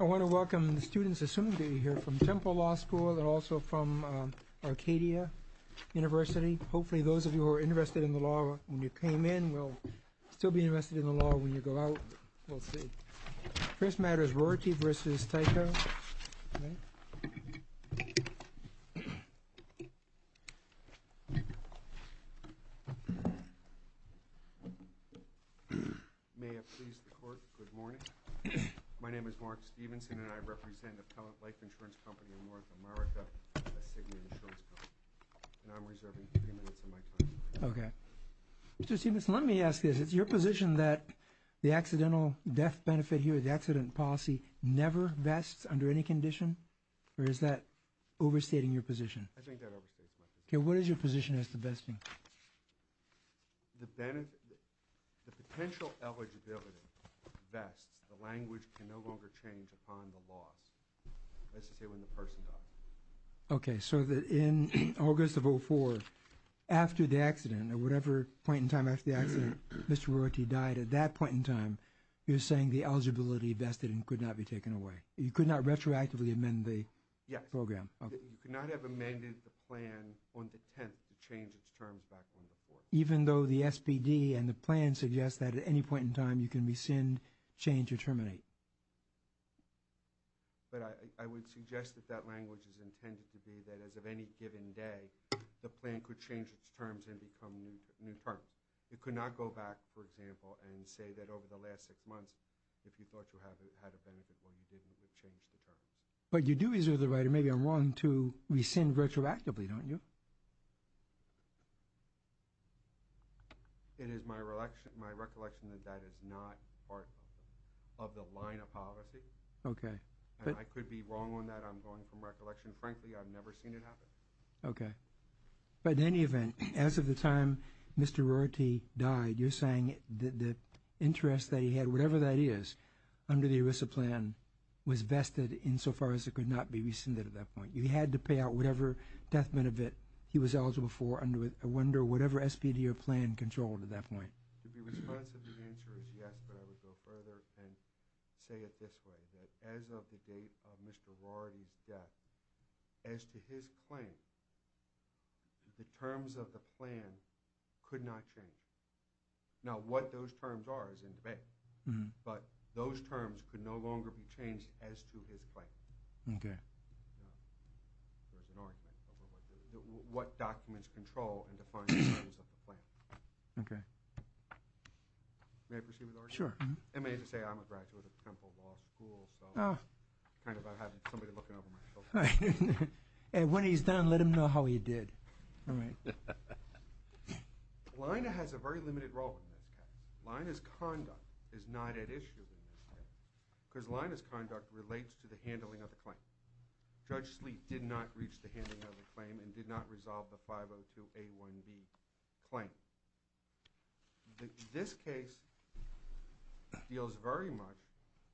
I want to welcome the students, assuming that you are here, from Temple Law School and also from Arcadia University. Hopefully those of you who were interested in the law when you came in will still be interested in the law when you go out. We'll see. First matter is Roarty v. Tyco. May it please the Court, good morning. My name is Mark Stevenson and I represent Appellant Life Insurance Company of North America, a significant insurance company. And I'm reserving three minutes of my time. Mr. Stevenson, let me ask you, is it your position that the accidental death benefit here, the accident policy, never vests under any condition? Or is that overstating your position? I think that overstates my position. Okay, what is your position as to vesting? The potential eligibility vests, the language can no longer change upon the loss. That's to say when the person dies. Okay, so in August of 2004, after the accident, at whatever point in time after the accident, Mr. Roarty died, at that point in time, you're saying the eligibility vested could not be taken away? You could not retroactively amend the program? Yes. You could not have amended the plan on the 10th to change its terms back on the 4th. Even though the SPD and the plan suggest that at any point in time you can rescind, change, or terminate? But I would suggest that that language is intended to be that as of any given day, the plan could change its terms and become new terms. You could not go back, for example, and say that over the last six months, if you thought you had a benefit, well, you didn't. You changed the terms. But you do reserve the right, and maybe I'm wrong, to rescind retroactively, don't you? It is my recollection that that is not part of the line of policy. Okay. And I could be wrong on that. I'm going from recollection. Frankly, I've never seen it happen. Okay. But in any event, as of the time Mr. Roarty died, you're saying the interest that he had, whatever that is, under the ERISA plan was vested insofar as it could not be rescinded at that point? You had to pay out whatever death benefit he was eligible for under whatever SPD or plan controlled at that point? To be responsive, the answer is yes. But I would go further and say it this way, that as of the date of Mr. Roarty's death, as to his claim, the terms of the plan could not change. Now, what those terms are is in debate. But those terms could no longer be changed as to his claim. Okay. There's an argument over what documents control and define the terms of the plan. Okay. May I proceed with the argument? Sure. I may have to say I'm a graduate of Temple Law School, so kind of I have somebody looking over my shoulder. And when he's done, let him know how he did. All right. Lina has a very limited role in this case. Lina's conduct is not at issue in this case because Lina's conduct relates to the handling of the claim. Judge Sleet did not reach the handling of the claim and did not resolve the 502A1B claim. This case deals very much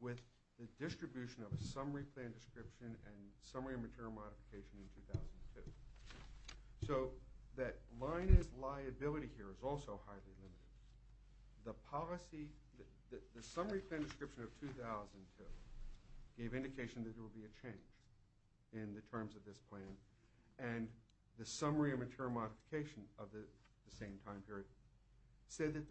with the distribution of a summary plan description and summary material modification in 2002. So that Lina's liability here is also highly limited. The policy, the summary plan description of 2002 gave indication that there would be a change in the terms of this plan. And the summary of material modification of the same time period said that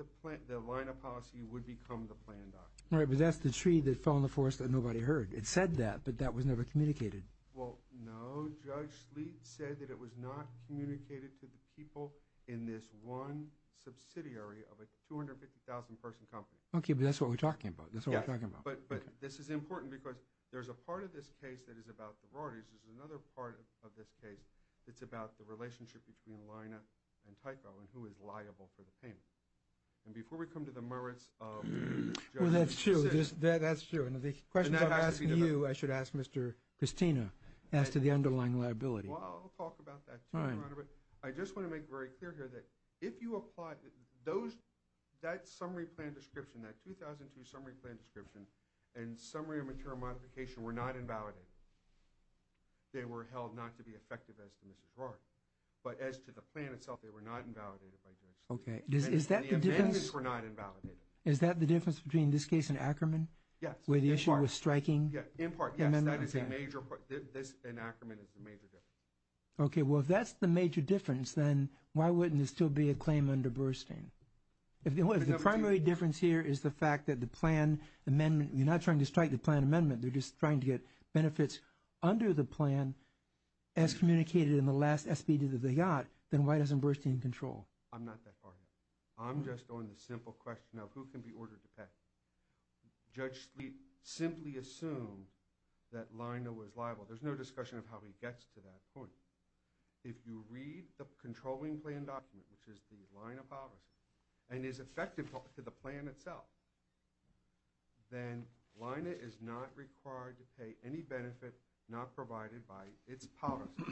the Lina policy would become the plan document. All right, but that's the tree that fell in the forest that nobody heard. It said that, but that was never communicated. Well, no. Judge Sleet said that it was not communicated to the people in this one subsidiary of a 250,000-person company. Okay, but that's what we're talking about. That's what we're talking about. Yes, but this is important because there's a part of this case that is about the rorties. There's another part of this case that's about the relationship between Lina and Typo and who is liable for the payment. And before we come to the merits of Judge Sleet's decision. Well, that's true. That's true. The questions I'm asking you, I should ask Mr. Christina as to the underlying liability. Well, I'll talk about that. All right. I just want to make very clear here that if you apply those, that summary plan description, that 2002 summary plan description, and summary of material modification were not invalidated, they were held not to be effective as to Mrs. Rorty. But as to the plan itself, they were not invalidated by Judge Sleet. Okay. The amendments were not invalidated. Is that the difference between this case and Ackerman? Yes. Where the issue was striking? In part, yes. That is a major point. This and Ackerman is a major difference. Okay. Well, if that's the major difference, then why wouldn't there still be a claim under Burstein? If the primary difference here is the fact that the plan amendment, you're not trying to strike the plan amendment. They're just trying to get benefits under the plan as communicated in the last SBD that they got, then why doesn't Burstein control? I'm not that far yet. I'm just on the simple question of who can be ordered to pay. Judge Sleet simply assumed that Leina was liable. There's no discussion of how he gets to that point. If you read the controlling plan document, which is the Leina policy, and is effective to the plan itself, then Leina is not required to pay any benefit not provided by its policy.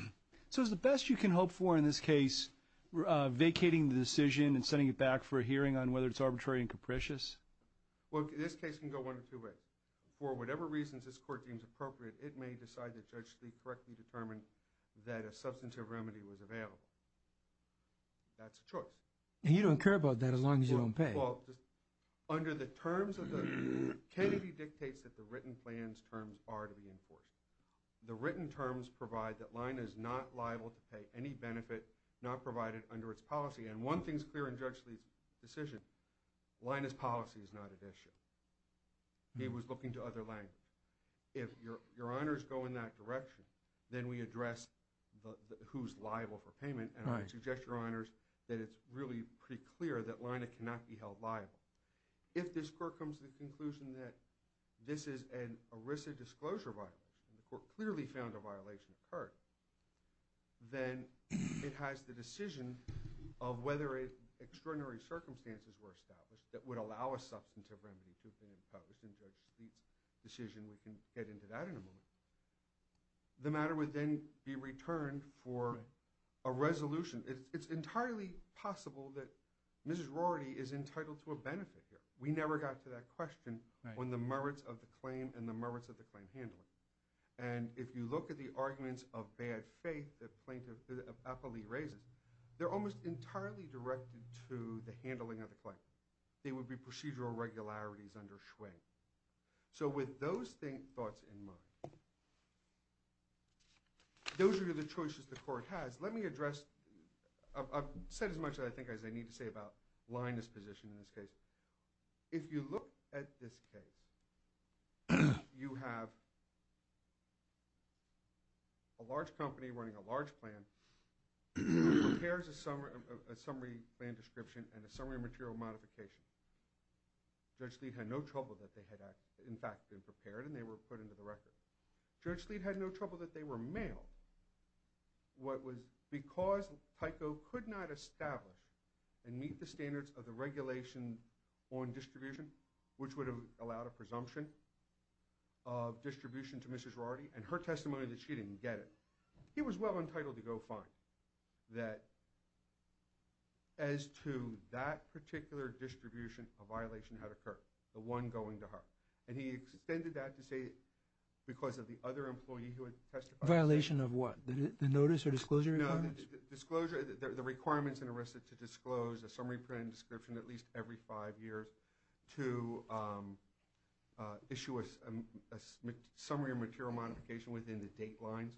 So is the best you can hope for in this case vacating the decision and sending it back for a hearing on whether it's arbitrary and capricious? Well, this case can go one or two ways. For whatever reasons this court deems appropriate, it may decide that Judge Sleet correctly determined that a substantive remedy was available. That's a choice. And you don't care about that as long as you don't pay? Well, under the terms of the – Kennedy dictates that the written plan's terms are to be enforced. The written terms provide that Leina is not liable to pay any benefit not provided under its policy. And one thing's clear in Judge Sleet's decision. Leina's policy is not at issue. He was looking to other language. If your honors go in that direction, then we address who's liable for payment. And I suggest to your honors that it's really pretty clear that Leina cannot be held liable. If this court comes to the conclusion that this is an ERISA disclosure violation, the court clearly found a violation occurred, then it has the decision of whether extraordinary circumstances were established that would allow a substantive remedy to have been imposed. In Judge Sleet's decision, we can get into that in a moment. The matter would then be returned for a resolution. It's entirely possible that Mrs. Rorty is entitled to a benefit here. We never got to that question on the merits of the claim and the merits of the claim handling. And if you look at the arguments of bad faith that Plaintiff Eppley raises, they're almost entirely directed to the handling of the claim. They would be procedural regularities under Schwinn. So with those thoughts in mind, those are the choices the court has. Let me address – I've said as much, I think, as I need to say about Leina's position in this case. If you look at this case, you have a large company running a large plan that prepares a summary plan description and a summary material modification. Judge Sleet had no trouble that they had, in fact, been prepared and they were put into the record. Judge Sleet had no trouble that they were mailed. What was – because Tyco could not establish and meet the standards of the regulation on distribution, which would have allowed a presumption of distribution to Mrs. Rorty and her testimony that she didn't get it, he was well entitled to go fine that as to that particular distribution, a violation had occurred, the one going to her. And he extended that to say because of the other employee who had testified. Violation of what? The notice or disclosure requirements? No, the disclosure – the requirements in Arrested to Disclose, a summary plan description at least every five years to issue a summary or material modification within the date lines.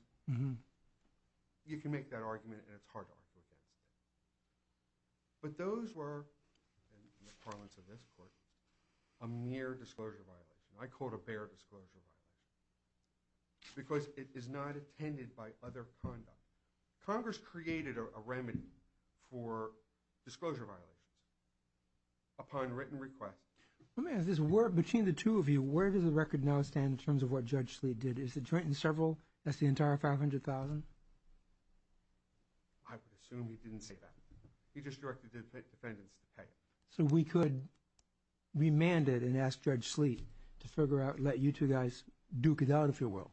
You can make that argument and it's hard to argue against it. But those were, in the parlance of this Court, a mere disclosure violation. I call it a bare disclosure violation because it is not attended by other conduct. Congress created a remedy for disclosure violations upon written request. Let me ask this. Between the two of you, where does the record now stand in terms of what Judge Sleet did? Is it joint in several – that's the entire 500,000? I would assume he didn't say that. He just directed the defendants to pay. So we could remand it and ask Judge Sleet to figure out, let you two guys duke it out, if you will,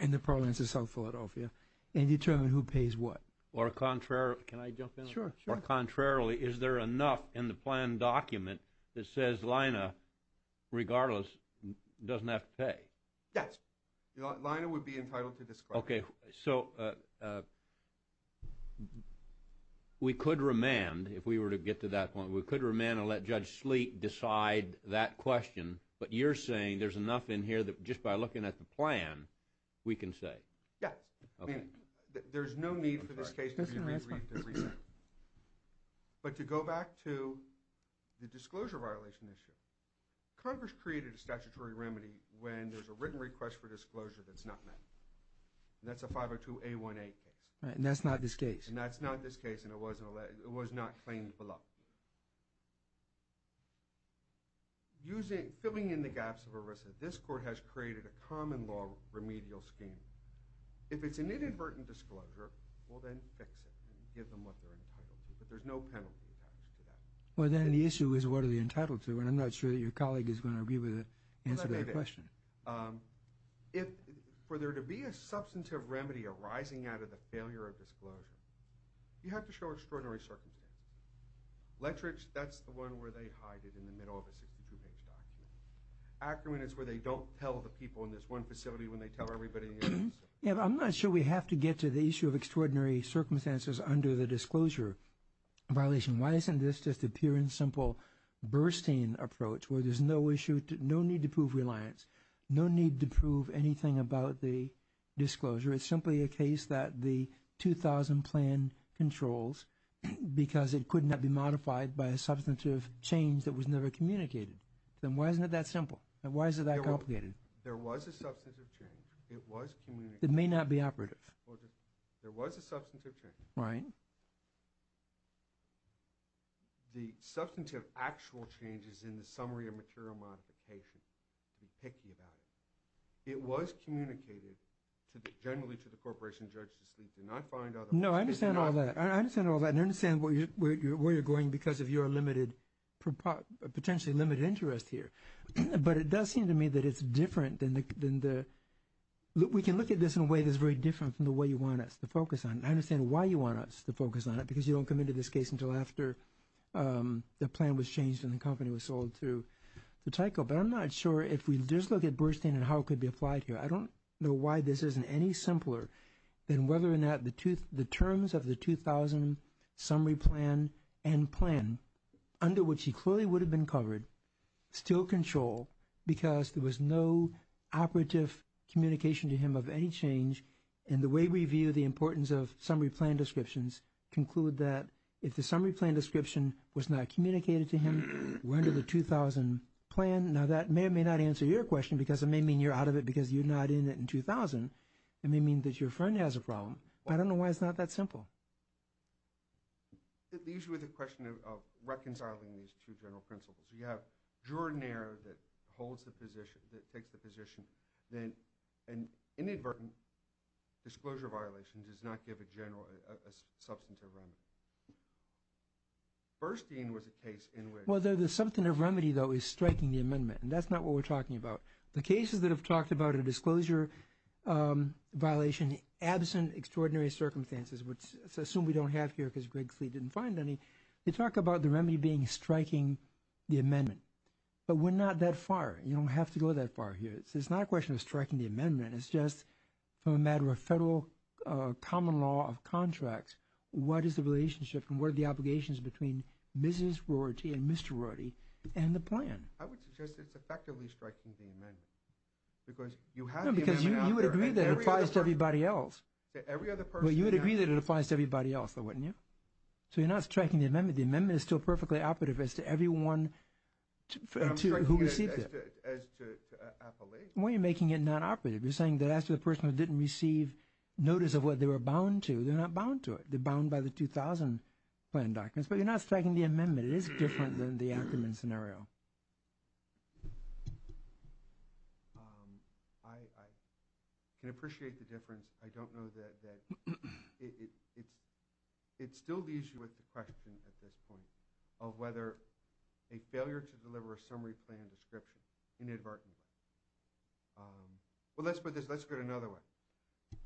in the parlance of South Philadelphia and determine who pays what. Or contrary – can I jump in? Sure, sure. Or contrarily, is there enough in the plan document that says Lina, regardless, doesn't have to pay? Yes. Lina would be entitled to disclose. Okay. So we could remand, if we were to get to that point. We could remand and let Judge Sleet decide that question. But you're saying there's enough in here that just by looking at the plan, we can say. Yes. I mean, there's no need for this case to be reviewed and reviewed. But to go back to the disclosure violation issue, Congress created a statutory remedy when there's a written request for disclosure that's not met. And that's a 502A1A case. And that's not this case. And that's not this case, and it was not claimed below. Using – filling in the gaps of ERISA, this court has created a common law remedial scheme. If it's an inadvertent disclosure, we'll then fix it and give them what they're entitled to. But there's no penalty attached to that. Well, then the issue is what are they entitled to? And I'm not sure that your colleague is going to agree with the answer to that question. If – for there to be a substantive remedy arising out of the failure of disclosure, you have to show extraordinary circumstances. Lettrich, that's the one where they hide it in the middle of a 62-page document. Ackerman is where they don't tell the people in this one facility when they tell everybody else. Yeah, but I'm not sure we have to get to the issue of extraordinary circumstances under the disclosure violation. Why isn't this just a pure and simple Burstein approach where there's no issue – no need to prove reliance, no need to prove anything about the disclosure? It's simply a case that the 2000 plan controls because it could not be modified by a substantive change that was never communicated. Then why isn't it that simple? And why is it that complicated? There was a substantive change. It was communicated. It may not be operative. There was a substantive change. Right. The substantive actual change is in the summary of material modification. Don't be picky about it. It was communicated to the – generally to the corporation judged to sleep. Did not find otherwise. No, I understand all that. I understand all that and I understand where you're going because of your limited – potentially limited interest here. But it does seem to me that it's different than the – we can look at this in a way that's very different from the way you want us to focus on. I understand why you want us to focus on it because you don't come into this case until after the plan was changed and the company was sold to Tyco. But I'm not sure if we just look at Burstein and how it could be applied here. I don't know why this isn't any simpler than whether or not the terms of the 2000 summary plan and plan under which he clearly would have been covered still control because there was no operative communication to him of any change and the way we view the importance of summary plan descriptions conclude that if the summary plan description was not communicated to him, we're under the 2000 plan. Now, that may or may not answer your question because it may mean you're out of it because you're not in it in 2000. It may mean that your friend has a problem. I don't know why it's not that simple. It leaves you with the question of reconciling these two general principles. You have Jordanair that holds the position, that takes the position, then an inadvertent disclosure violation does not give a substantive remedy. Burstein was a case in which… Well, the substantive remedy, though, is striking the amendment, and that's not what we're talking about. The cases that have talked about a disclosure violation absent extraordinary circumstances, which I assume we don't have here because Greg Sleet didn't find any, they talk about the remedy being striking the amendment, but we're not that far. You don't have to go that far here. It's not a question of striking the amendment. It's just from a matter of federal common law of contracts, what is the relationship and what are the obligations between Mrs. Rorty and Mr. Rorty and the plan? I would suggest it's effectively striking the amendment because you have the amendment out there. No, because you would agree that it applies to everybody else. To every other person. Well, you would agree that it applies to everybody else, though, wouldn't you? So you're not striking the amendment. The amendment is still perfectly operative as to everyone who received it. I'm striking it as to appellees. Well, you're making it non-operative. You're saying that as to the person who didn't receive notice of what they were bound to. They're not bound to it. They're bound by the 2000 plan documents. But you're not striking the amendment. It is different than the Ackerman scenario. I can appreciate the difference. I don't know that it still leaves you with the question at this point of whether a failure to deliver a summary plan description inadvertently. Well, let's put it another way.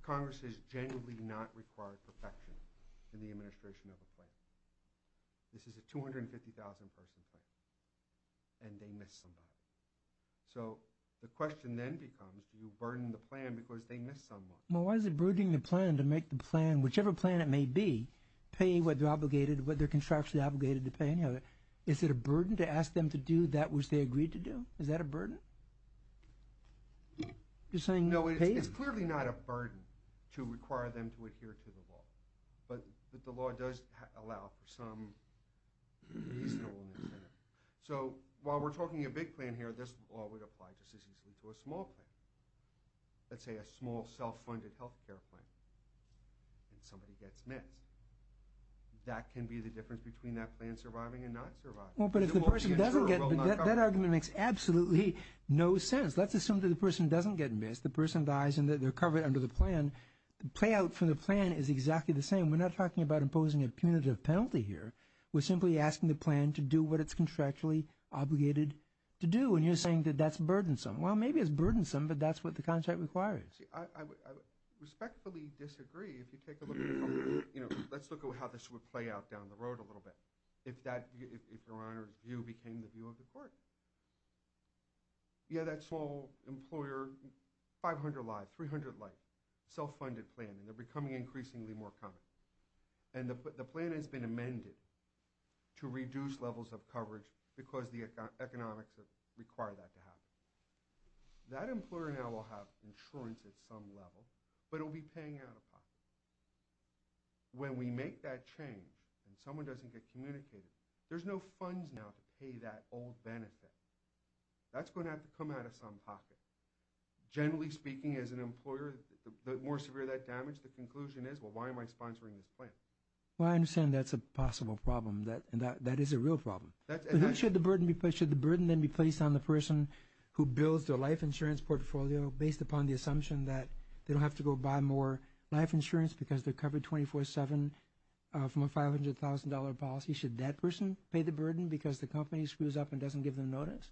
Congress has genuinely not required perfection in the administration of a plan. This is a 250,000-person plan, and they missed somebody. So the question then becomes, do you burden the plan because they missed someone? Well, why is it burdening the plan to make the plan, whichever plan it may be, pay what they're obligated, what they're constructively obligated to pay? Is it a burden to ask them to do that which they agreed to do? Is that a burden? You're saying pay? No, it's clearly not a burden to require them to adhere to the law. But the law does allow for some reasonableness there. So while we're talking a big plan here, this law would apply just as easily to a small plan. Let's say a small self-funded health care plan, and somebody gets missed. That can be the difference between that plan surviving and not surviving. Well, but if the person doesn't get missed, that argument makes absolutely no sense. Let's assume that the person doesn't get missed. The person dies and they're covered under the plan. The play out for the plan is exactly the same. We're not talking about imposing a punitive penalty here. We're simply asking the plan to do what it's constructively obligated to do, and you're saying that that's burdensome. Well, maybe it's burdensome, but that's what the contract requires. I respectfully disagree. If you take a look at the company, let's look at how this would play out down the road a little bit if Your Honor's view became the view of the court. You have that small employer, 500 lives, 300 lives, self-funded plan, and they're becoming increasingly more common. And the plan has been amended to reduce levels of coverage because the economics require that to happen. That employer now will have insurance at some level, but it will be paying out of pocket. When we make that change and someone doesn't get communicated, there's no funds now to pay that old benefit. That's going to have to come out of some pocket. Generally speaking, as an employer, the more severe that damage, the conclusion is, well, why am I sponsoring this plan? Well, I understand that's a possible problem, and that is a real problem. Should the burden then be placed on the person who builds their life insurance portfolio based upon the assumption that they don't have to go buy more life insurance because they're covered 24-7 from a $500,000 policy? Should that person pay the burden because the company screws up and doesn't give them notice?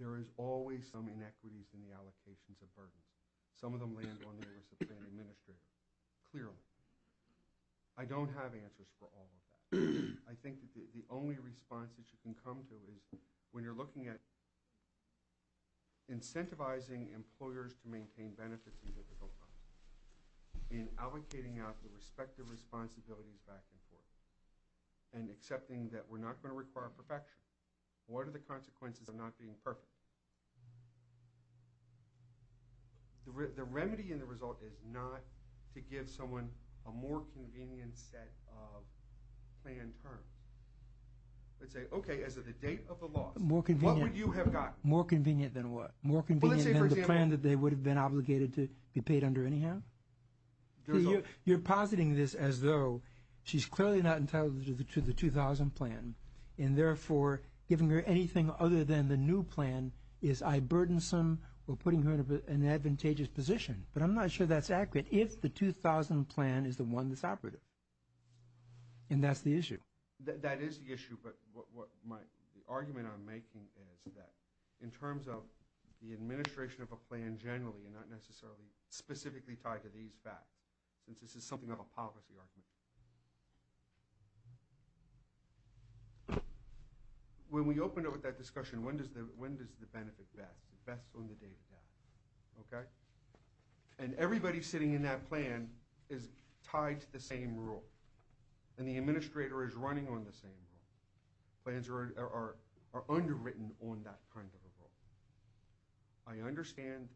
There is always some inequities in the allocations of burdens. Some of them land on the oversight of the administrator, clearly. I don't have answers for all of that. I think that the only response that you can come to is when you're looking at incentivizing employers to maintain benefits in difficult times, in allocating out the respective responsibilities back and forth, and accepting that we're not going to require perfection. What are the consequences of not being perfect? The remedy in the result is not to give someone a more convenient set of plan terms. Let's say, okay, as of the date of the loss, what would you have gotten? More convenient than what? More convenient than the plan that they would have been obligated to be paid under anyhow? You're positing this as though she's clearly not entitled to the 2000 plan, and therefore giving her anything other than the new plan is eye-burdensome or putting her in an advantageous position. But I'm not sure that's accurate if the 2000 plan is the one that's operative. And that's the issue. That is the issue. But the argument I'm making is that in terms of the administration of a plan generally and not necessarily specifically tied to these facts, since this is something of a policy argument. When we open up that discussion, when does the benefit best? The best on the day of death, okay? And everybody sitting in that plan is tied to the same rule, and the administrator is running on the same rule. Plans are underwritten on that kind of a rule. I understand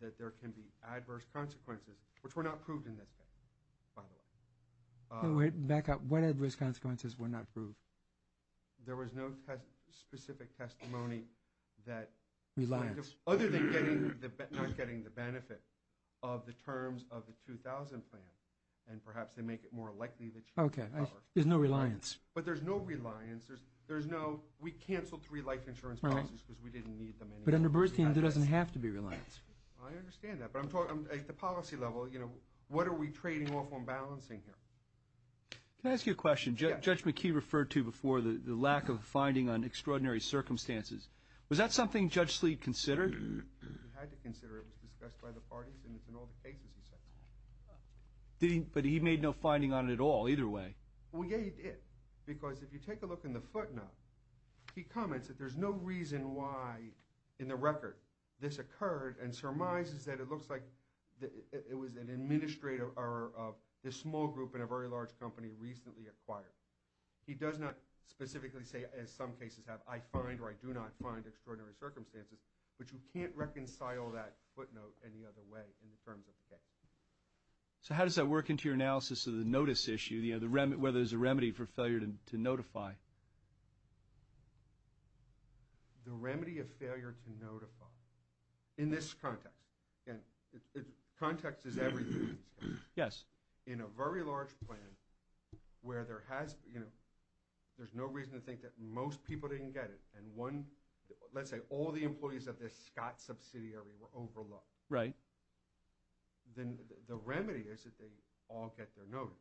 that there can be adverse consequences, which were not proved in this case, by the way. Back up. What adverse consequences were not proved? There was no specific testimony that other than not getting the benefit of the terms of the 2000 plan, and perhaps they make it more likely that she was covered. Okay. There's no reliance. But there's no reliance. We canceled three life insurance policies because we didn't need them anymore. But under Burstein, there doesn't have to be reliance. I understand that. But at the policy level, what are we trading off on balancing here? Can I ask you a question? Judge McKee referred to before the lack of a finding on extraordinary circumstances. Was that something Judge Sleet considered? He had to consider it. It was discussed by the parties, and it's in all the cases he said. But he made no finding on it at all either way. Well, yeah, he did. Because if you take a look in the footnote, he comments that there's no reason why in the record this occurred and surmises that it looks like it was an administrative error of this small group in a very large company recently acquired. He does not specifically say, as some cases have, I find or I do not find extraordinary circumstances, but you can't reconcile that footnote any other way in the terms of the case. So how does that work into your analysis of the notice issue, where there's a remedy for failure to notify? The remedy of failure to notify. In this context, and context is everything in this case. Yes. In a very large plan where there's no reason to think that most people didn't get it and let's say all the employees of this Scott subsidiary were overlooked. Right. Then the remedy is that they all get their notice.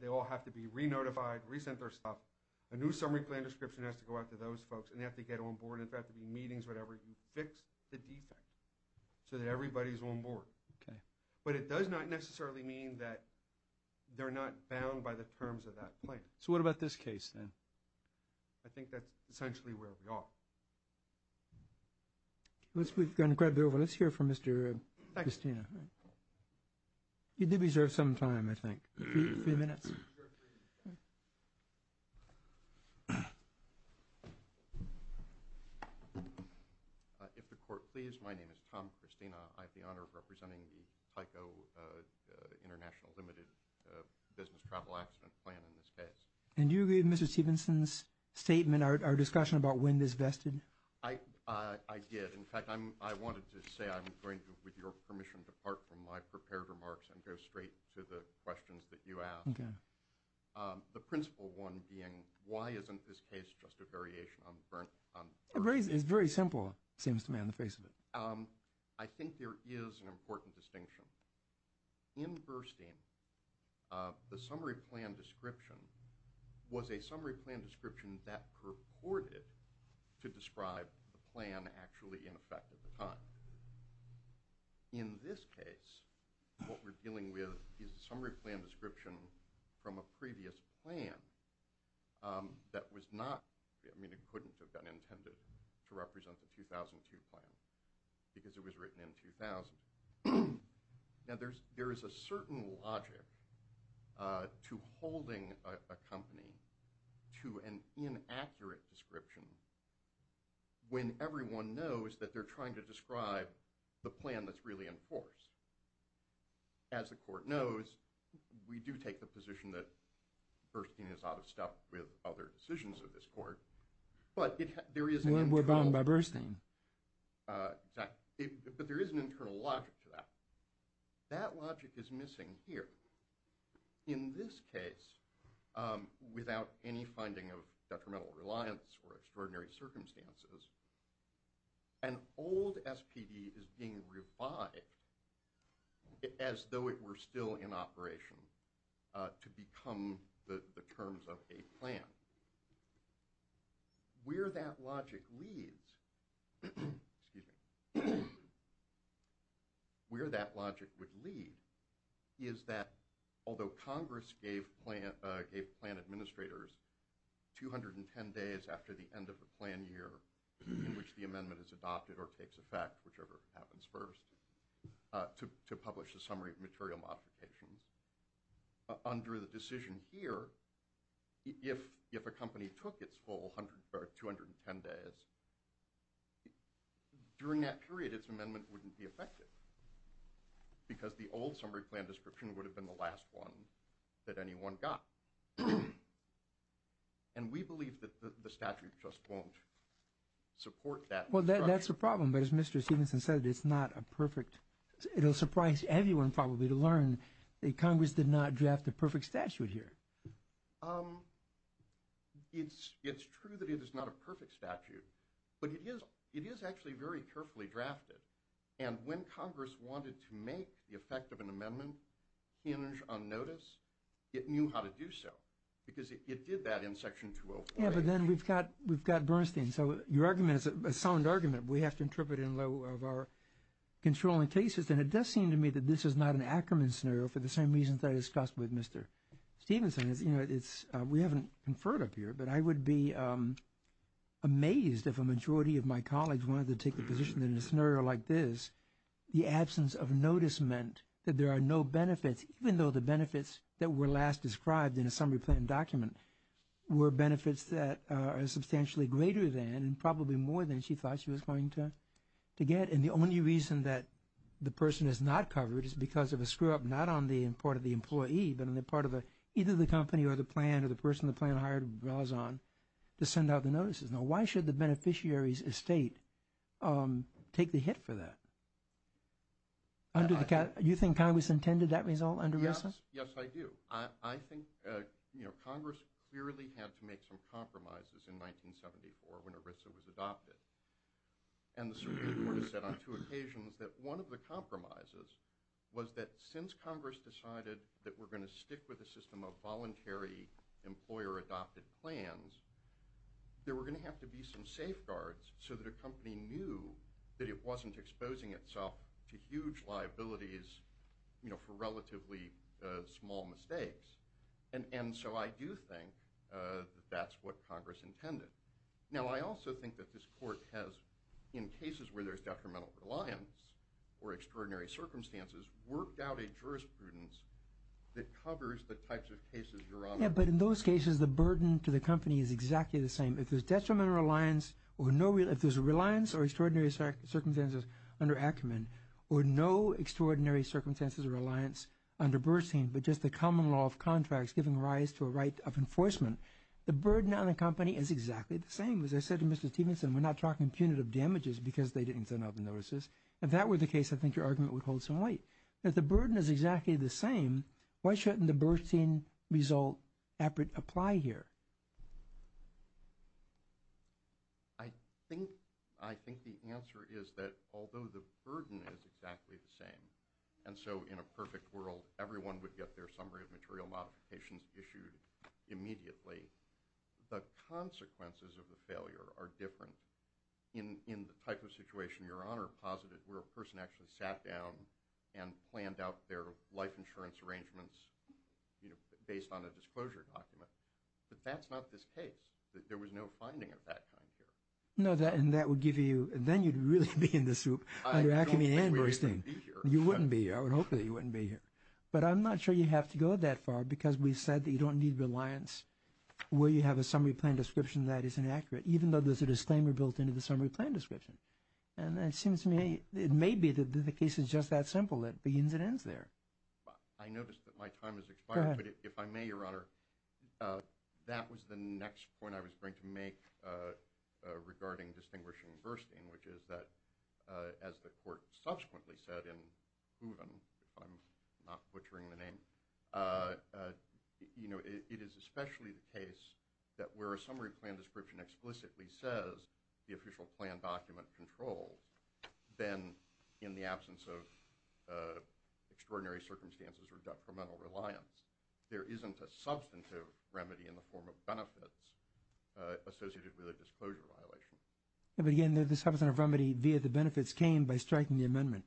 They all have to be re-notified, re-sent their stuff. A new summary plan description has to go out to those folks and they have to get on board and there have to be meetings, whatever. You fix the defect so that everybody's on board. Okay. But it does not necessarily mean that they're not bound by the terms of that plan. So what about this case then? I think that's essentially where we are. We've gone quite a bit over. Let's hear from Mr. Christina. You do reserve some time, I think. A few minutes. If the court please, my name is Tom Christina. I have the honor of representing the Tyco International Limited business travel accident plan in this case. And do you agree with Mr. Stevenson's statement, our discussion about when this vested? I did. In fact, I wanted to say I'm going to, with your permission, depart from my prepared remarks and go straight to the questions that you asked. Okay. The principle one being why isn't this case just a variation on the first? It's very simple, it seems to me, on the face of it. I think there is an important distinction. In Burstein, the summary plan description was a summary plan description that purported to describe the plan actually in effect at the time. In this case, what we're dealing with is a summary plan description from a previous plan that was not, I mean it couldn't have been intended to represent the 2002 plan because it was written in 2000. Now there is a certain logic to holding a company to an inaccurate description when everyone knows that they're trying to describe the plan that's really in force. As the court knows, we do take the position that Burstein is out of step with other decisions of this court. We're bound by Burstein. But there is an internal logic to that. That logic is missing here. In this case, without any finding of detrimental reliance or extraordinary circumstances, an old SPD is being revived as though it were still in operation to become the terms of a plan. Where that logic would lead is that although Congress gave plan administrators 210 days after the end of the plan year in which the amendment is adopted or takes effect, whichever happens first, to publish the summary of material modifications, under the decision here, if a company took its full 210 days, during that period its amendment wouldn't be effective because the old summary plan description would have been the last one that anyone got. And we believe that the statute just won't support that. Well, that's the problem. But as Mr. Stevenson said, it's not a perfect, it'll surprise everyone probably to learn that Congress did not draft a perfect statute here. It's true that it is not a perfect statute, but it is actually very carefully drafted. And when Congress wanted to make the effect of an amendment hinge on notice, it knew how to do so because it did that in Section 204. Yeah, but then we've got Burstein. So your argument is a sound argument. We have to interpret it in light of our controlling cases, and it does seem to me that this is not an Ackerman scenario for the same reasons that I discussed with Mr. Stevenson. We haven't conferred up here, but I would be amazed if a majority of my colleagues wanted to take the position that in a scenario like this, the absence of notice meant that there are no benefits, even though the benefits that were last described in a summary plan document were benefits that are substantially greater than and probably more than she thought she was going to get. And the only reason that the person is not covered is because of a screw-up, not on the part of the employee, but on the part of either the company or the plan or the person the plan hired to send out the notices. Now, why should the beneficiary's estate take the hit for that? You think Congress intended that result under ERISA? Yes, I do. I think Congress clearly had to make some compromises in 1974 when ERISA was adopted. And the Supreme Court has said on two occasions that one of the compromises was that since Congress decided that we're going to stick with a system of voluntary employer-adopted plans, there were going to have to be some safeguards so that a company knew that it wasn't exposing itself to huge liabilities for relatively small mistakes. And so I do think that that's what Congress intended. Now, I also think that this Court has, in cases where there's detrimental reliance or extraordinary circumstances, worked out a jurisprudence that covers the types of cases you're on. Yeah, but in those cases, the burden to the company is exactly the same. If there's a reliance or extraordinary circumstances under Ackerman or no extraordinary circumstances or reliance under Bernstein, but just the common law of contracts giving rise to a right of enforcement, the burden on the company is exactly the same. As I said to Mr. Stevenson, we're not talking punitive damages because they didn't send out the notices. If that were the case, I think your argument would hold some weight. If the burden is exactly the same, why shouldn't the Bernstein result appear to apply here? I think the answer is that although the burden is exactly the same, and so in a perfect world, everyone would get their summary of material modifications issued immediately, the consequences of the failure are different. In the type of situation your Honor posited, where a person actually sat down and planned out their life insurance arrangements based on a disclosure document, but that's not this case. There was no finding of that kind here. No, and that would give you – then you'd really be in the soup under Ackerman and Bernstein. I don't think we'd even be here. You wouldn't be here. I would hope that you wouldn't be here. But I'm not sure you have to go that far because we said that you don't need reliance where you have a summary plan description that is inaccurate, even though there's a disclaimer built into the summary plan description. And it seems to me – it may be that the case is just that simple. It begins and ends there. I notice that my time has expired. Go ahead. But if I may, Your Honor, that was the next point I was going to make regarding distinguishing Bernstein, which is that, as the Court subsequently said and proven, if I'm not butchering the name, it is especially the case that where a summary plan description explicitly says the official plan document controls, then in the absence of extraordinary circumstances or detrimental reliance, there isn't a substantive remedy in the form of benefits associated with a disclosure violation. But again, the substantive remedy via the benefits came by striking the amendment.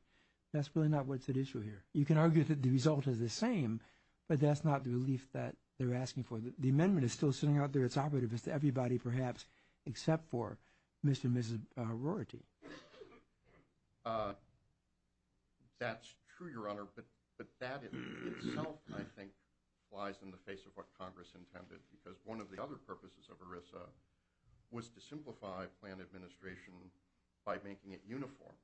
That's really not what's at issue here. You can argue that the result is the same, but that's not the relief that they're asking for. The amendment is still sitting out there. It's operative. It's to everybody, perhaps, except for Mr. and Mrs. Rorty. That's true, Your Honor. But that itself, I think, lies in the face of what Congress intended because one of the other purposes of ERISA was to simplify plan administration by making it uniform,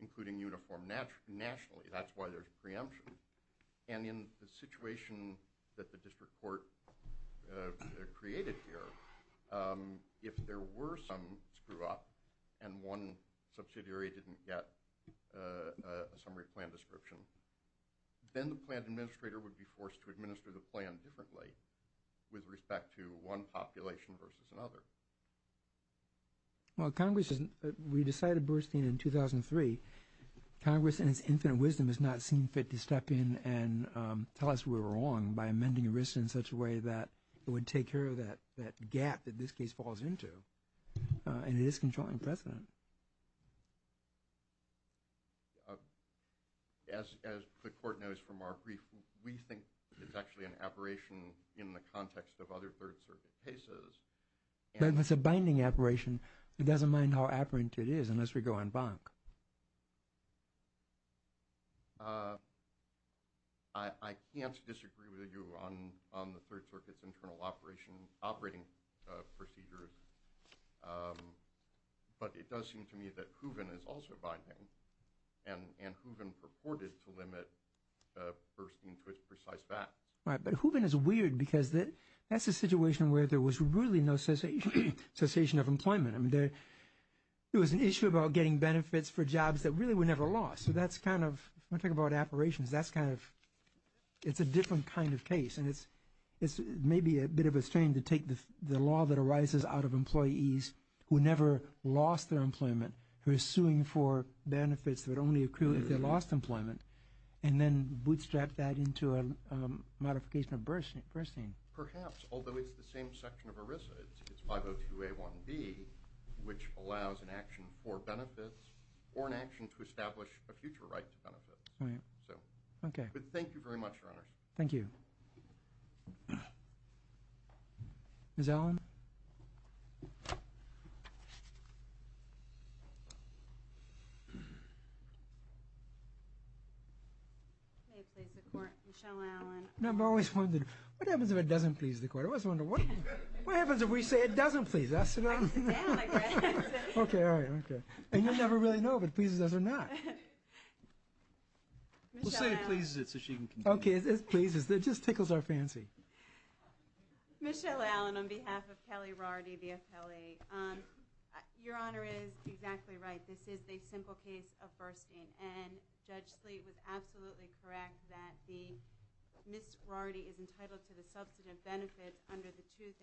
including uniform nationally. That's why there's preemption. And in the situation that the District Court created here, if there were some screw-up and one subsidiary didn't get a summary plan description, then the plan administrator would be forced to administer the plan differently with respect to one population versus another. Well, Congress has decided, Bruce Dean, in 2003, Congress in its infinite wisdom has not seen fit to step in and tell us we were wrong by amending ERISA in such a way that it would take care of that gap that this case falls into. And it is controlling precedent. As the Court knows from our brief, we think it's actually an aberration in the context of other Third Circuit cases. But if it's a binding aberration, it doesn't mind how aberrant it is unless we go en banc. I can't disagree with you on the Third Circuit's internal operating procedures. But it does seem to me that Hooven is also binding, and Hooven purported to limit Burstein to its precise facts. Right, but Hooven is weird because that's a situation where there was really no cessation of employment. I mean, there was an issue about getting benefits for jobs that really were never lost. So that's kind of, when I talk about aberrations, that's kind of, it's a different kind of case. And it's maybe a bit of a strain to take the law that arises out of employees who never lost their employment, who are suing for benefits that only accrue if they lost employment, and then bootstrap that into a modification of Burstein. Perhaps, although it's the same section of ERISA. It's 502A1B, which allows an action for benefits or an action to establish a future right to benefits. Right. But thank you very much, Your Honors. Thank you. Ms. Allen? Ms. Allen. May it please the Court, Michelle Allen. I've always wondered, what happens if it doesn't please the Court? I always wonder, what happens if we say it doesn't please us? I sit down like that. Okay, all right. And you never really know if it pleases us or not. We'll say it pleases it so she can continue. Okay, it pleases. It just tickles our fancy. Michelle Allen on behalf of Kelly Rorty, the appellee. Your Honor is exactly right. This is the simple case of Burstein. And Judge Sleet was absolutely correct that Ms. Rorty is entitled to the substantive benefits under the 2000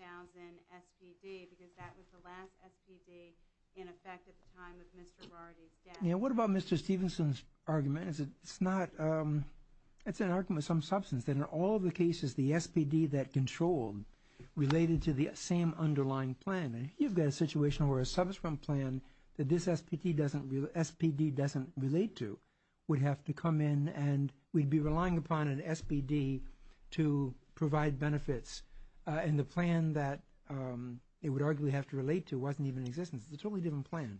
SBD because that was the last SBD in effect at the time of Mr. Rorty's death. What about Mr. Stevenson's argument? It's an argument of some substance that in all the cases the SBD that controlled related to the same underlying plan. You've got a situation where a subsequent plan that this SBD doesn't relate to would have to come in and we'd be relying upon an SBD to provide benefits and the plan that it would arguably have to relate to wasn't even in existence. It's a totally different plan.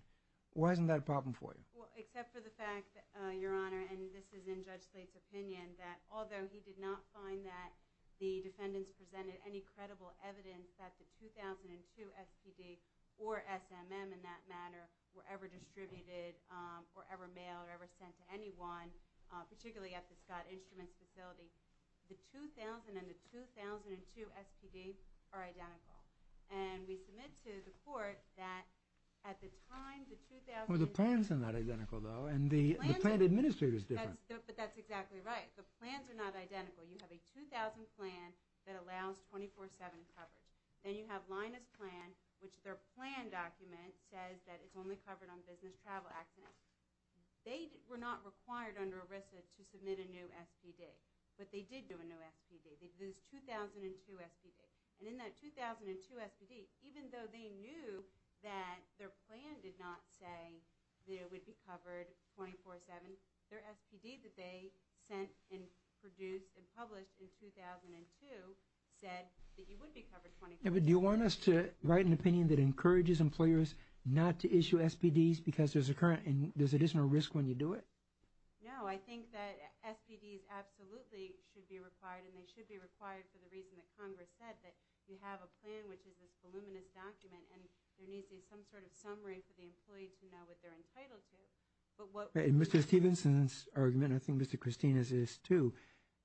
Why isn't that a problem for you? Except for the fact, Your Honor, and this is in Judge Sleet's opinion, that although he did not find that the defendants presented any credible evidence that the 2002 SBD or SMM in that matter were ever distributed or ever mailed or ever sent to anyone, particularly at the Scott Instruments facility, the 2000 and the 2002 SBD are identical. And we submit to the Court that at the time the 2000... Well, the plan's not identical, though, and the plan administrator's different. But that's exactly right. The plans are not identical. You have a 2000 plan that allows 24-7 coverage. Then you have Lina's plan, which their plan document says that it's only covered on business travel accidents. They were not required under ERISA to submit a new SBD, but they did do a new SBD. They did a 2002 SBD. And in that 2002 SBD, even though they knew that their plan did not say that it would be covered 24-7, their SBD that they sent and produced and published in 2002 said that it would be covered 24-7. Do you want us to write an opinion that encourages employers not to issue SBDs because there's additional risk when you do it? No, I think that SBDs absolutely should be required, and they should be required for the reason that Congress said, that you have a plan, which is this voluminous document, and there needs to be some sort of summary for the employee to know what they're entitled to. In Mr. Stevenson's argument, and I think Mr. Christine's is too,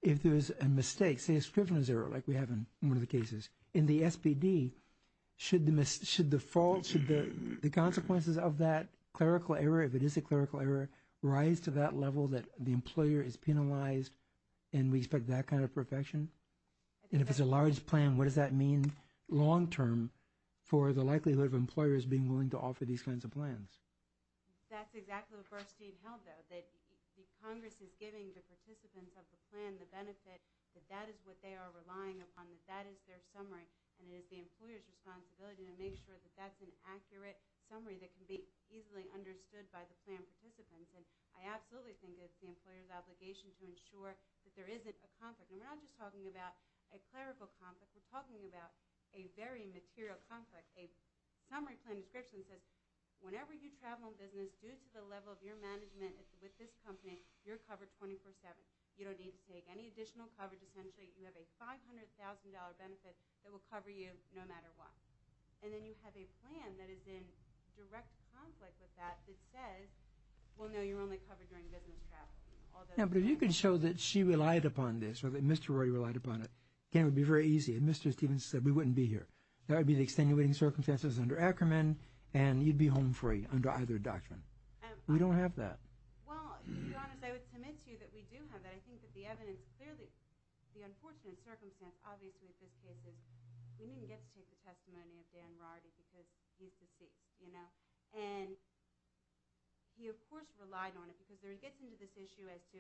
if there is a mistake, say a scrivener's error like we have in one of the cases, in the SBD, should the consequences of that clerical error, if it is a clerical error, rise to that level that the employer is penalized and we expect that kind of protection? And if it's a large plan, what does that mean long-term for the likelihood of employers being willing to offer these kinds of plans? That's exactly the verse Dean held, though, that Congress is giving the participants of the plan the benefit that that is what they are relying upon, that that is their summary, and it is the employer's responsibility to make sure that that's an accurate summary that can be easily understood by the plan participants. And I absolutely think it's the employer's obligation to ensure that there isn't a conflict. And we're not just talking about a clerical conflict, we're talking about a very material conflict. A summary plan description says, whenever you travel in business, due to the level of your management with this company, you're covered 24-7. You don't need to take any additional coverage. Essentially, you have a $500,000 benefit that will cover you no matter what. And then you have a plan that is in direct conflict with that that says, well, no, you're only covered during business travel. Yeah, but if you could show that she relied upon this or that Mr. Rory relied upon it, again, it would be very easy. If Mr. Stevens said, we wouldn't be here, that would be the extenuating circumstances under Ackerman, and you'd be home free under either doctrine. We don't have that. Well, to be honest, I would submit to you that we do have that. I think that the evidence clearly, the unfortunate circumstance, obviously with this case is we didn't get to take the testimony of Dan Rorty because he's deceased. And he, of course, relied on it because he gets into this issue as to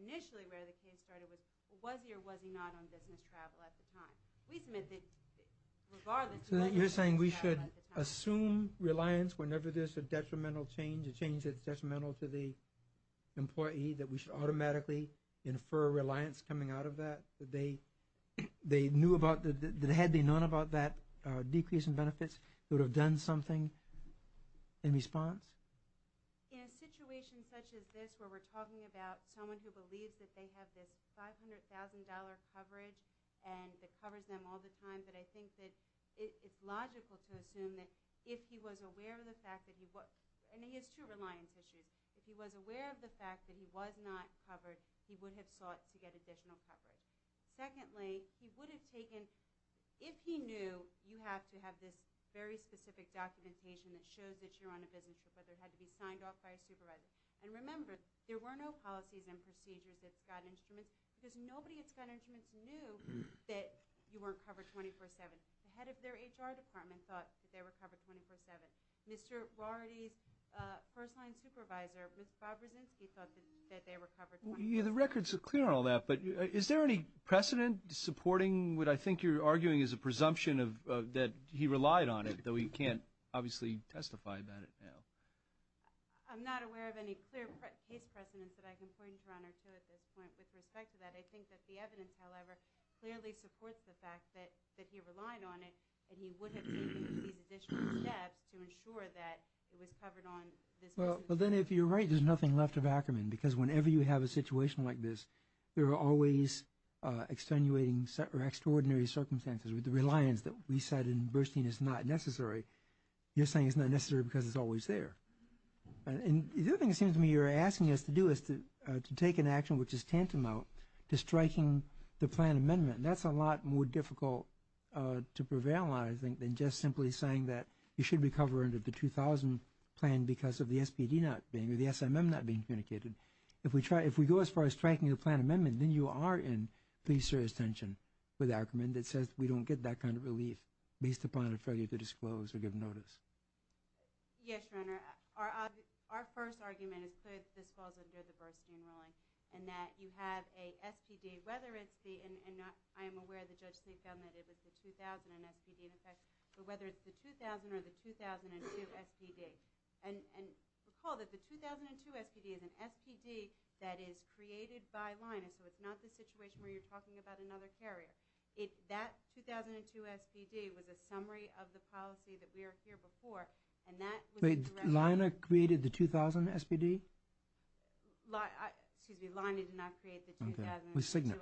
initially where the case started was, was he or was he not on business travel at the time? We submit that regardless of whether he was on business travel at the time. So you're saying we should assume reliance whenever there's a detrimental change, a change that's detrimental to the employee, that we should automatically infer reliance coming out of that, that they knew about, that had they known about that decrease in benefits, they would have done something in response? In a situation such as this where we're talking about someone who believes that they have this $500,000 coverage and it covers them all the time, I think that it's logical to assume that if he was aware of the fact that he was – and he has two reliance issues. If he was aware of the fact that he was not covered, he would have sought to get additional coverage. Secondly, he would have taken – if he knew you have to have this very specific documentation that shows that you're on a business trip, whether it had to be signed off by a supervisor. And remember, there were no policies and procedures that got instruments because nobody that's got instruments knew that you weren't covered 24-7. The head of their HR department thought that they were covered 24-7. Mr. Rorty's first-line supervisor, Mr. Bob Brzezinski, thought that they were covered 24-7. The records are clear on all that, but is there any precedent supporting what I think you're arguing is a presumption that he relied on it, though he can't obviously testify about it now? I'm not aware of any clear case precedent that I can point to at this point with respect to that. I think that the evidence, however, clearly supports the fact that he relied on it and he would have taken these additional steps to ensure that it was covered on this business trip. Well, then if you're right, there's nothing left of Ackerman because whenever you have a situation like this, there are always extenuating or extraordinary circumstances. With the reliance that we said in Burstein is not necessary, you're saying it's not necessary because it's always there. The other thing it seems to me you're asking us to do is to take an action which is tantamount to striking the plan amendment. That's a lot more difficult to prevail on, I think, than just simply saying that you should recover under the 2000 plan because of the SPD not being or the SMM not being communicated. If we go as far as striking a plan amendment, then you are in pretty serious tension with Ackerman that says we don't get that kind of relief based upon a failure to disclose or give notice. Yes, Your Honor. Our first argument is clear that this falls under the Burstein ruling and that you have a SPD, whether it's the – and I am aware the Judge Smith found that it was the 2000 SPD in effect, but whether it's the 2000 or the 2002 SPD. And recall that the 2002 SPD is an SPD that is created by Linus, so it's not the situation where you're talking about another carrier. That 2002 SPD was a summary of the policy that we are here before, and that was a direct – Wait, Lina created the 2000 SPD? Excuse me, Lina did not create the 2002 SPD. Okay, it was Signet.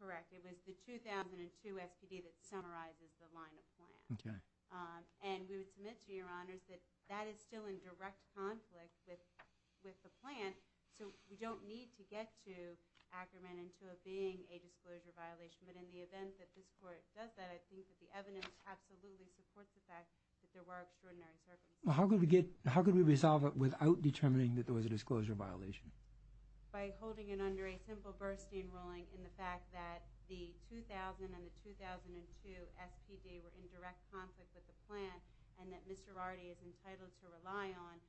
Correct. It was the 2002 SPD that summarizes the Lina plan. Okay. And we would submit to Your Honors that that is still in direct conflict with the plan, so we don't need to get to Ackerman into it being a disclosure violation. But in the event that this Court does that, I think that the evidence absolutely supports the fact that there were extraordinary circumstances. How could we get – how could we resolve it without determining that there was a disclosure violation? By holding it under a simple Burstein ruling in the fact that the 2000 and the 2002 SPD were in direct conflict with the plan and that Mr. Rardy is entitled to rely on,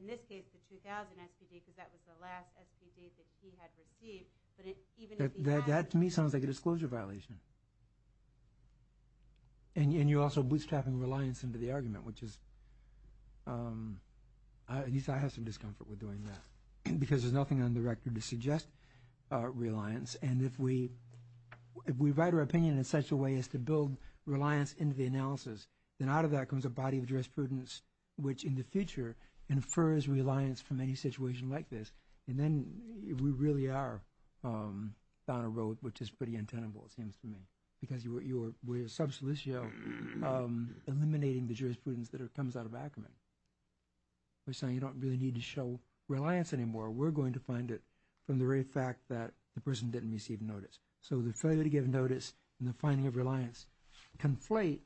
in this case, the 2000 SPD because that was the last SPD that he had received. But even if he had – That to me sounds like a disclosure violation. And you're also bootstrapping reliance into the argument, which is – at least I have some discomfort with doing that because there's nothing on the record to suggest reliance. And if we write our opinion in such a way as to build reliance into the analysis, then out of that comes a body of jurisprudence which in the future infers reliance from any situation like this. And then we really are down a road which is pretty untenable, it seems to me, because we're a subsolicio eliminating the jurisprudence that comes out of Ackerman. We're saying you don't really need to show reliance anymore. We're going to find it from the very fact that the person didn't receive notice. So the failure to give notice and the finding of reliance conflate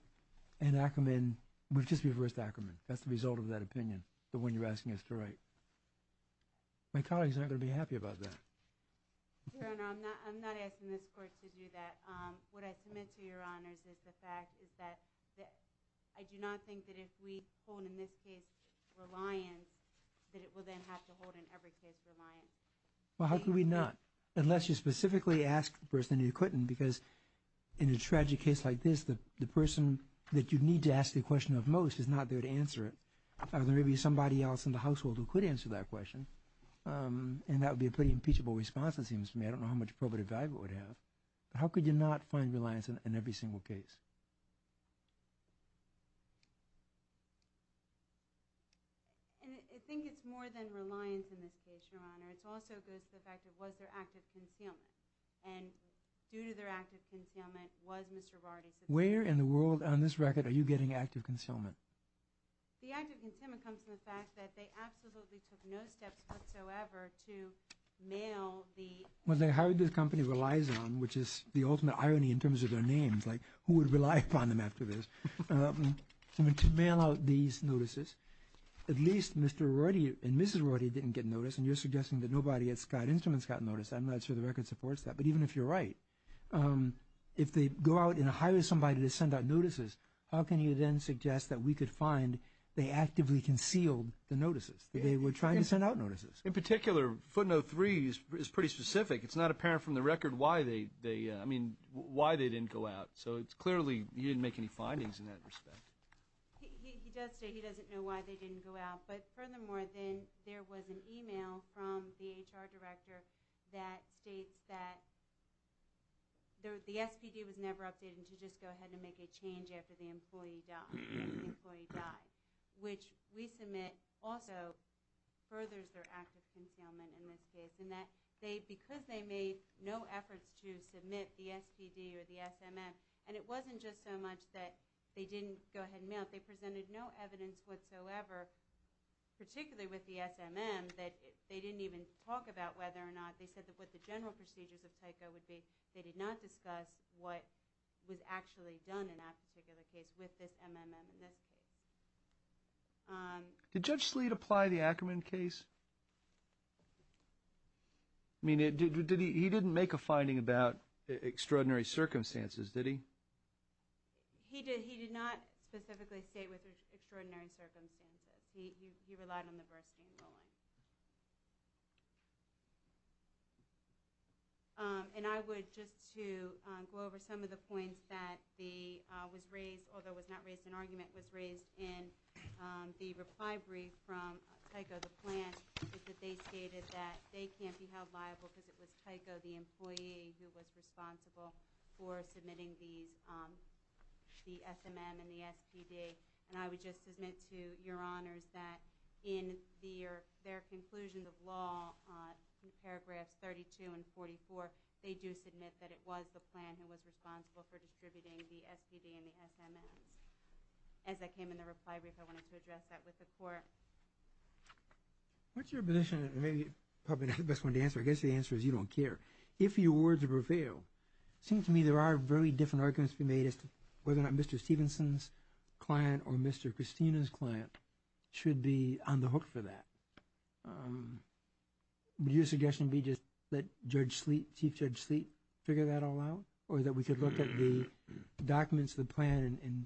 and Ackerman – we've just reversed Ackerman. That's the result of that opinion, the one you're asking us to write. My colleagues aren't going to be happy about that. Your Honor, I'm not asking this Court to do that. What I submit to Your Honors is the fact is that I do not think that if we hold, in this case, reliance, that it will then have to hold in every case reliance. Well, how could we not? Unless you specifically asked the person and you couldn't because in a tragic case like this, the person that you need to ask the question of most is not there to answer it. There may be somebody else in the household who could answer that question, and that would be a pretty impeachable response, it seems to me. I don't know how much probative value it would have. How could you not find reliance in every single case? I think it's more than reliance in this case, Your Honor. It also goes to the fact it was their act of concealment. And due to their act of concealment was Mr. Rorty's. Where in the world on this record are you getting act of concealment? The act of concealment comes from the fact that they absolutely took no steps whatsoever to mail the... Well, they hired this company, Reliazon, which is the ultimate irony in terms of their names, like who would rely upon them after this, to mail out these notices. At least Mr. Rorty and Mrs. Rorty didn't get notice, and you're suggesting that nobody at Scott Instruments got notice. I'm not sure the record supports that. But even if you're right, if they go out and hire somebody to send out notices, how can you then suggest that we could find they actively concealed the notices, that they were trying to send out notices? In particular, footnote 3 is pretty specific. It's not apparent from the record why they didn't go out. So it's clearly you didn't make any findings in that respect. He does say he doesn't know why they didn't go out. But furthermore, there was an e-mail from the HR director that states that the SPD was never updated and to just go ahead and make a change after the employee died, which we submit also furthers their act of concealment in this case, in that because they made no efforts to submit the SPD or the SMF, and it wasn't just so much that they didn't go ahead and mail it. They presented no evidence whatsoever, particularly with the SMM, that they didn't even talk about whether or not they said that what the general procedures of TYCO would be. They did not discuss what was actually done in that particular case with this MMM in this case. Did Judge Sleet apply the Ackerman case? I mean, he didn't make a finding about extraordinary circumstances, did he? He did not specifically state with extraordinary circumstances. He relied on the Burstein ruling. And I would just to go over some of the points that was raised, although it was not raised in argument, was raised in the reply brief from TYCO, the plant, that they stated that they can't be held liable because it was TYCO, the employee, who was responsible for submitting the SMM and the SPD. And I would just submit to Your Honors that in their conclusion of law, in paragraphs 32 and 44, they do submit that it was the plant who was responsible for distributing the SPD and the SMMs. As that came in the reply brief, I wanted to address that with the Court. What's your position? Maybe probably not the best one to answer. I guess the answer is you don't care. If your words prevail, it seems to me there are very different arguments to be made as to whether or not Mr. Stevenson's client or Mr. Christina's client should be on the hook for that. Would your suggestion be just let Judge Sleet, Chief Judge Sleet, figure that all out? Or that we could look at the documents, the plan, and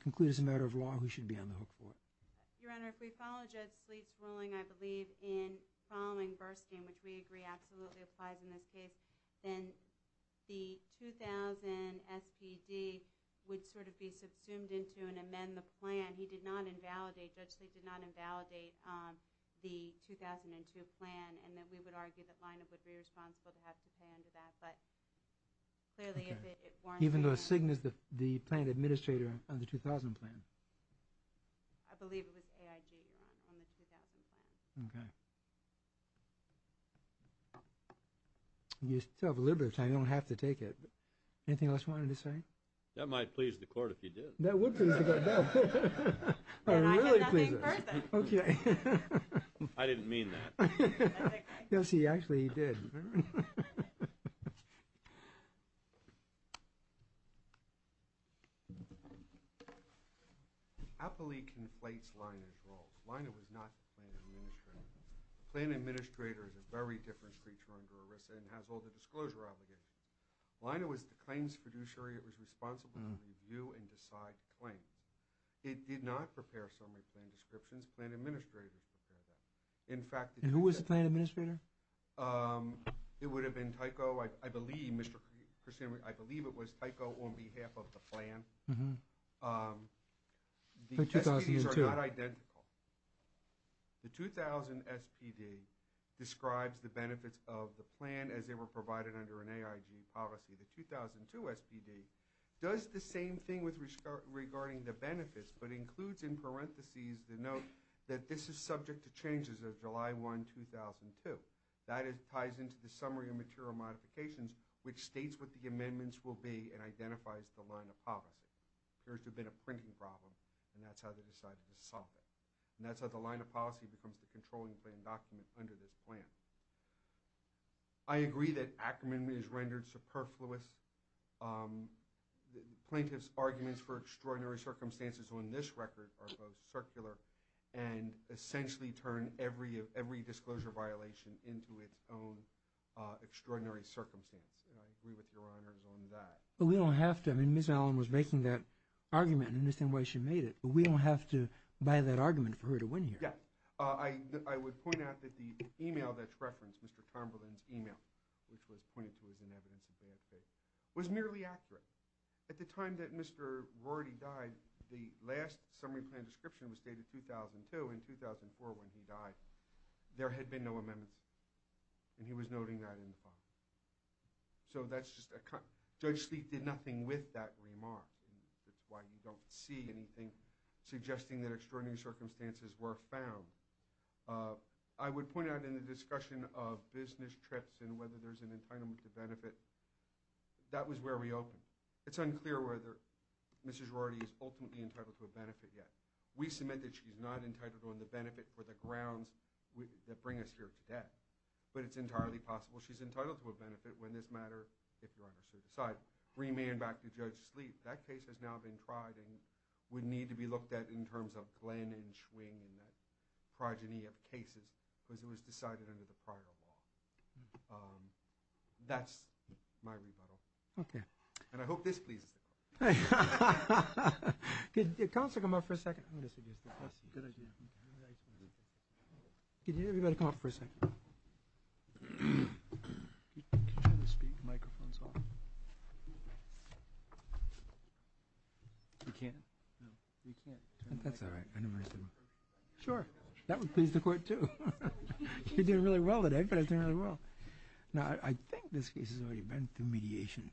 conclude as a matter of law who should be on the hook for it? Your Honor, if we follow Judge Sleet's ruling, I believe in following Burstein, which we agree absolutely applies in this case, then the 2000 SPD would sort of be subsumed into and amend the plan. He did not invalidate, Judge Sleet did not invalidate the 2002 plan, and then we would argue that lineup would be responsible to have to pay into that. But clearly if it weren't for— Even though Signe is the plant administrator on the 2000 plan? I believe it was AIG, Your Honor, on the 2000 plan. Okay. You still have a little bit of time. You don't have to take it. Anything else you wanted to say? That might please the Court if you did. That would please the Court. And I have nothing further. Okay. I didn't mean that. Yes, he actually did. Okay. Appley conflates Leina's role. Leina was not the plant administrator. The plant administrator is a very different creature under ERISA and has all the disclosure obligations. Leina was the claims fiduciary. It was responsible to review and decide the claim. It did not prepare summary plan descriptions. Plant administrators prepared that. In fact— And who was the plant administrator? It would have been Tyco. I believe, Mr. Krishnan, I believe it was Tyco on behalf of the plan. The SPDs are not identical. The 2000 SPD describes the benefits of the plan as they were provided under an AIG policy. The 2002 SPD does the same thing regarding the benefits but includes in parentheses the note that this is subject to changes of July 1, 2002. That ties into the summary of material modifications which states what the amendments will be and identifies the line of policy. Appears to have been a printing problem and that's how they decided to solve it. And that's how the line of policy becomes the controlling plan document under this plan. I agree that Ackerman is rendered superfluous. Plaintiff's arguments for extraordinary circumstances on this record are both circular and essentially turn every disclosure violation into its own extraordinary circumstance. And I agree with your honors on that. But we don't have to. I mean, Ms. Allen was making that argument and I understand why she made it. But we don't have to buy that argument for her to win here. Yeah. Which was pointed to as an evidence of bad faith. It was merely accurate. At the time that Mr. Rorty died, the last summary plan description was dated 2002. In 2004 when he died, there had been no amendments. And he was noting that in the file. So that's just a – Judge Sleet did nothing with that remark. That's why you don't see anything suggesting that extraordinary circumstances were found. I would point out in the discussion of business trips and whether there's an entitlement to benefit, that was where we opened. It's unclear whether Mrs. Rorty is ultimately entitled to a benefit yet. We submit that she's not entitled on the benefit for the grounds that bring us here today. But it's entirely possible she's entitled to a benefit when this matter, if your honors so decide, remain back to Judge Sleet. That case has now been tried and would need to be looked at in terms of Glenn and Schwing and that progeny of cases because it was decided under the prior law. That's my rebuttal. Okay. And I hope this pleases the court. Hey. Could counsel come up for a second? I'm going to suggest this. Good idea. Everybody come up for a second. Could you turn the microphones off? We can't? No. We can't. That's all right. Sure. That would please the court, too. You're doing really well today. You're doing really well. Now, I think this case has already been through mediation.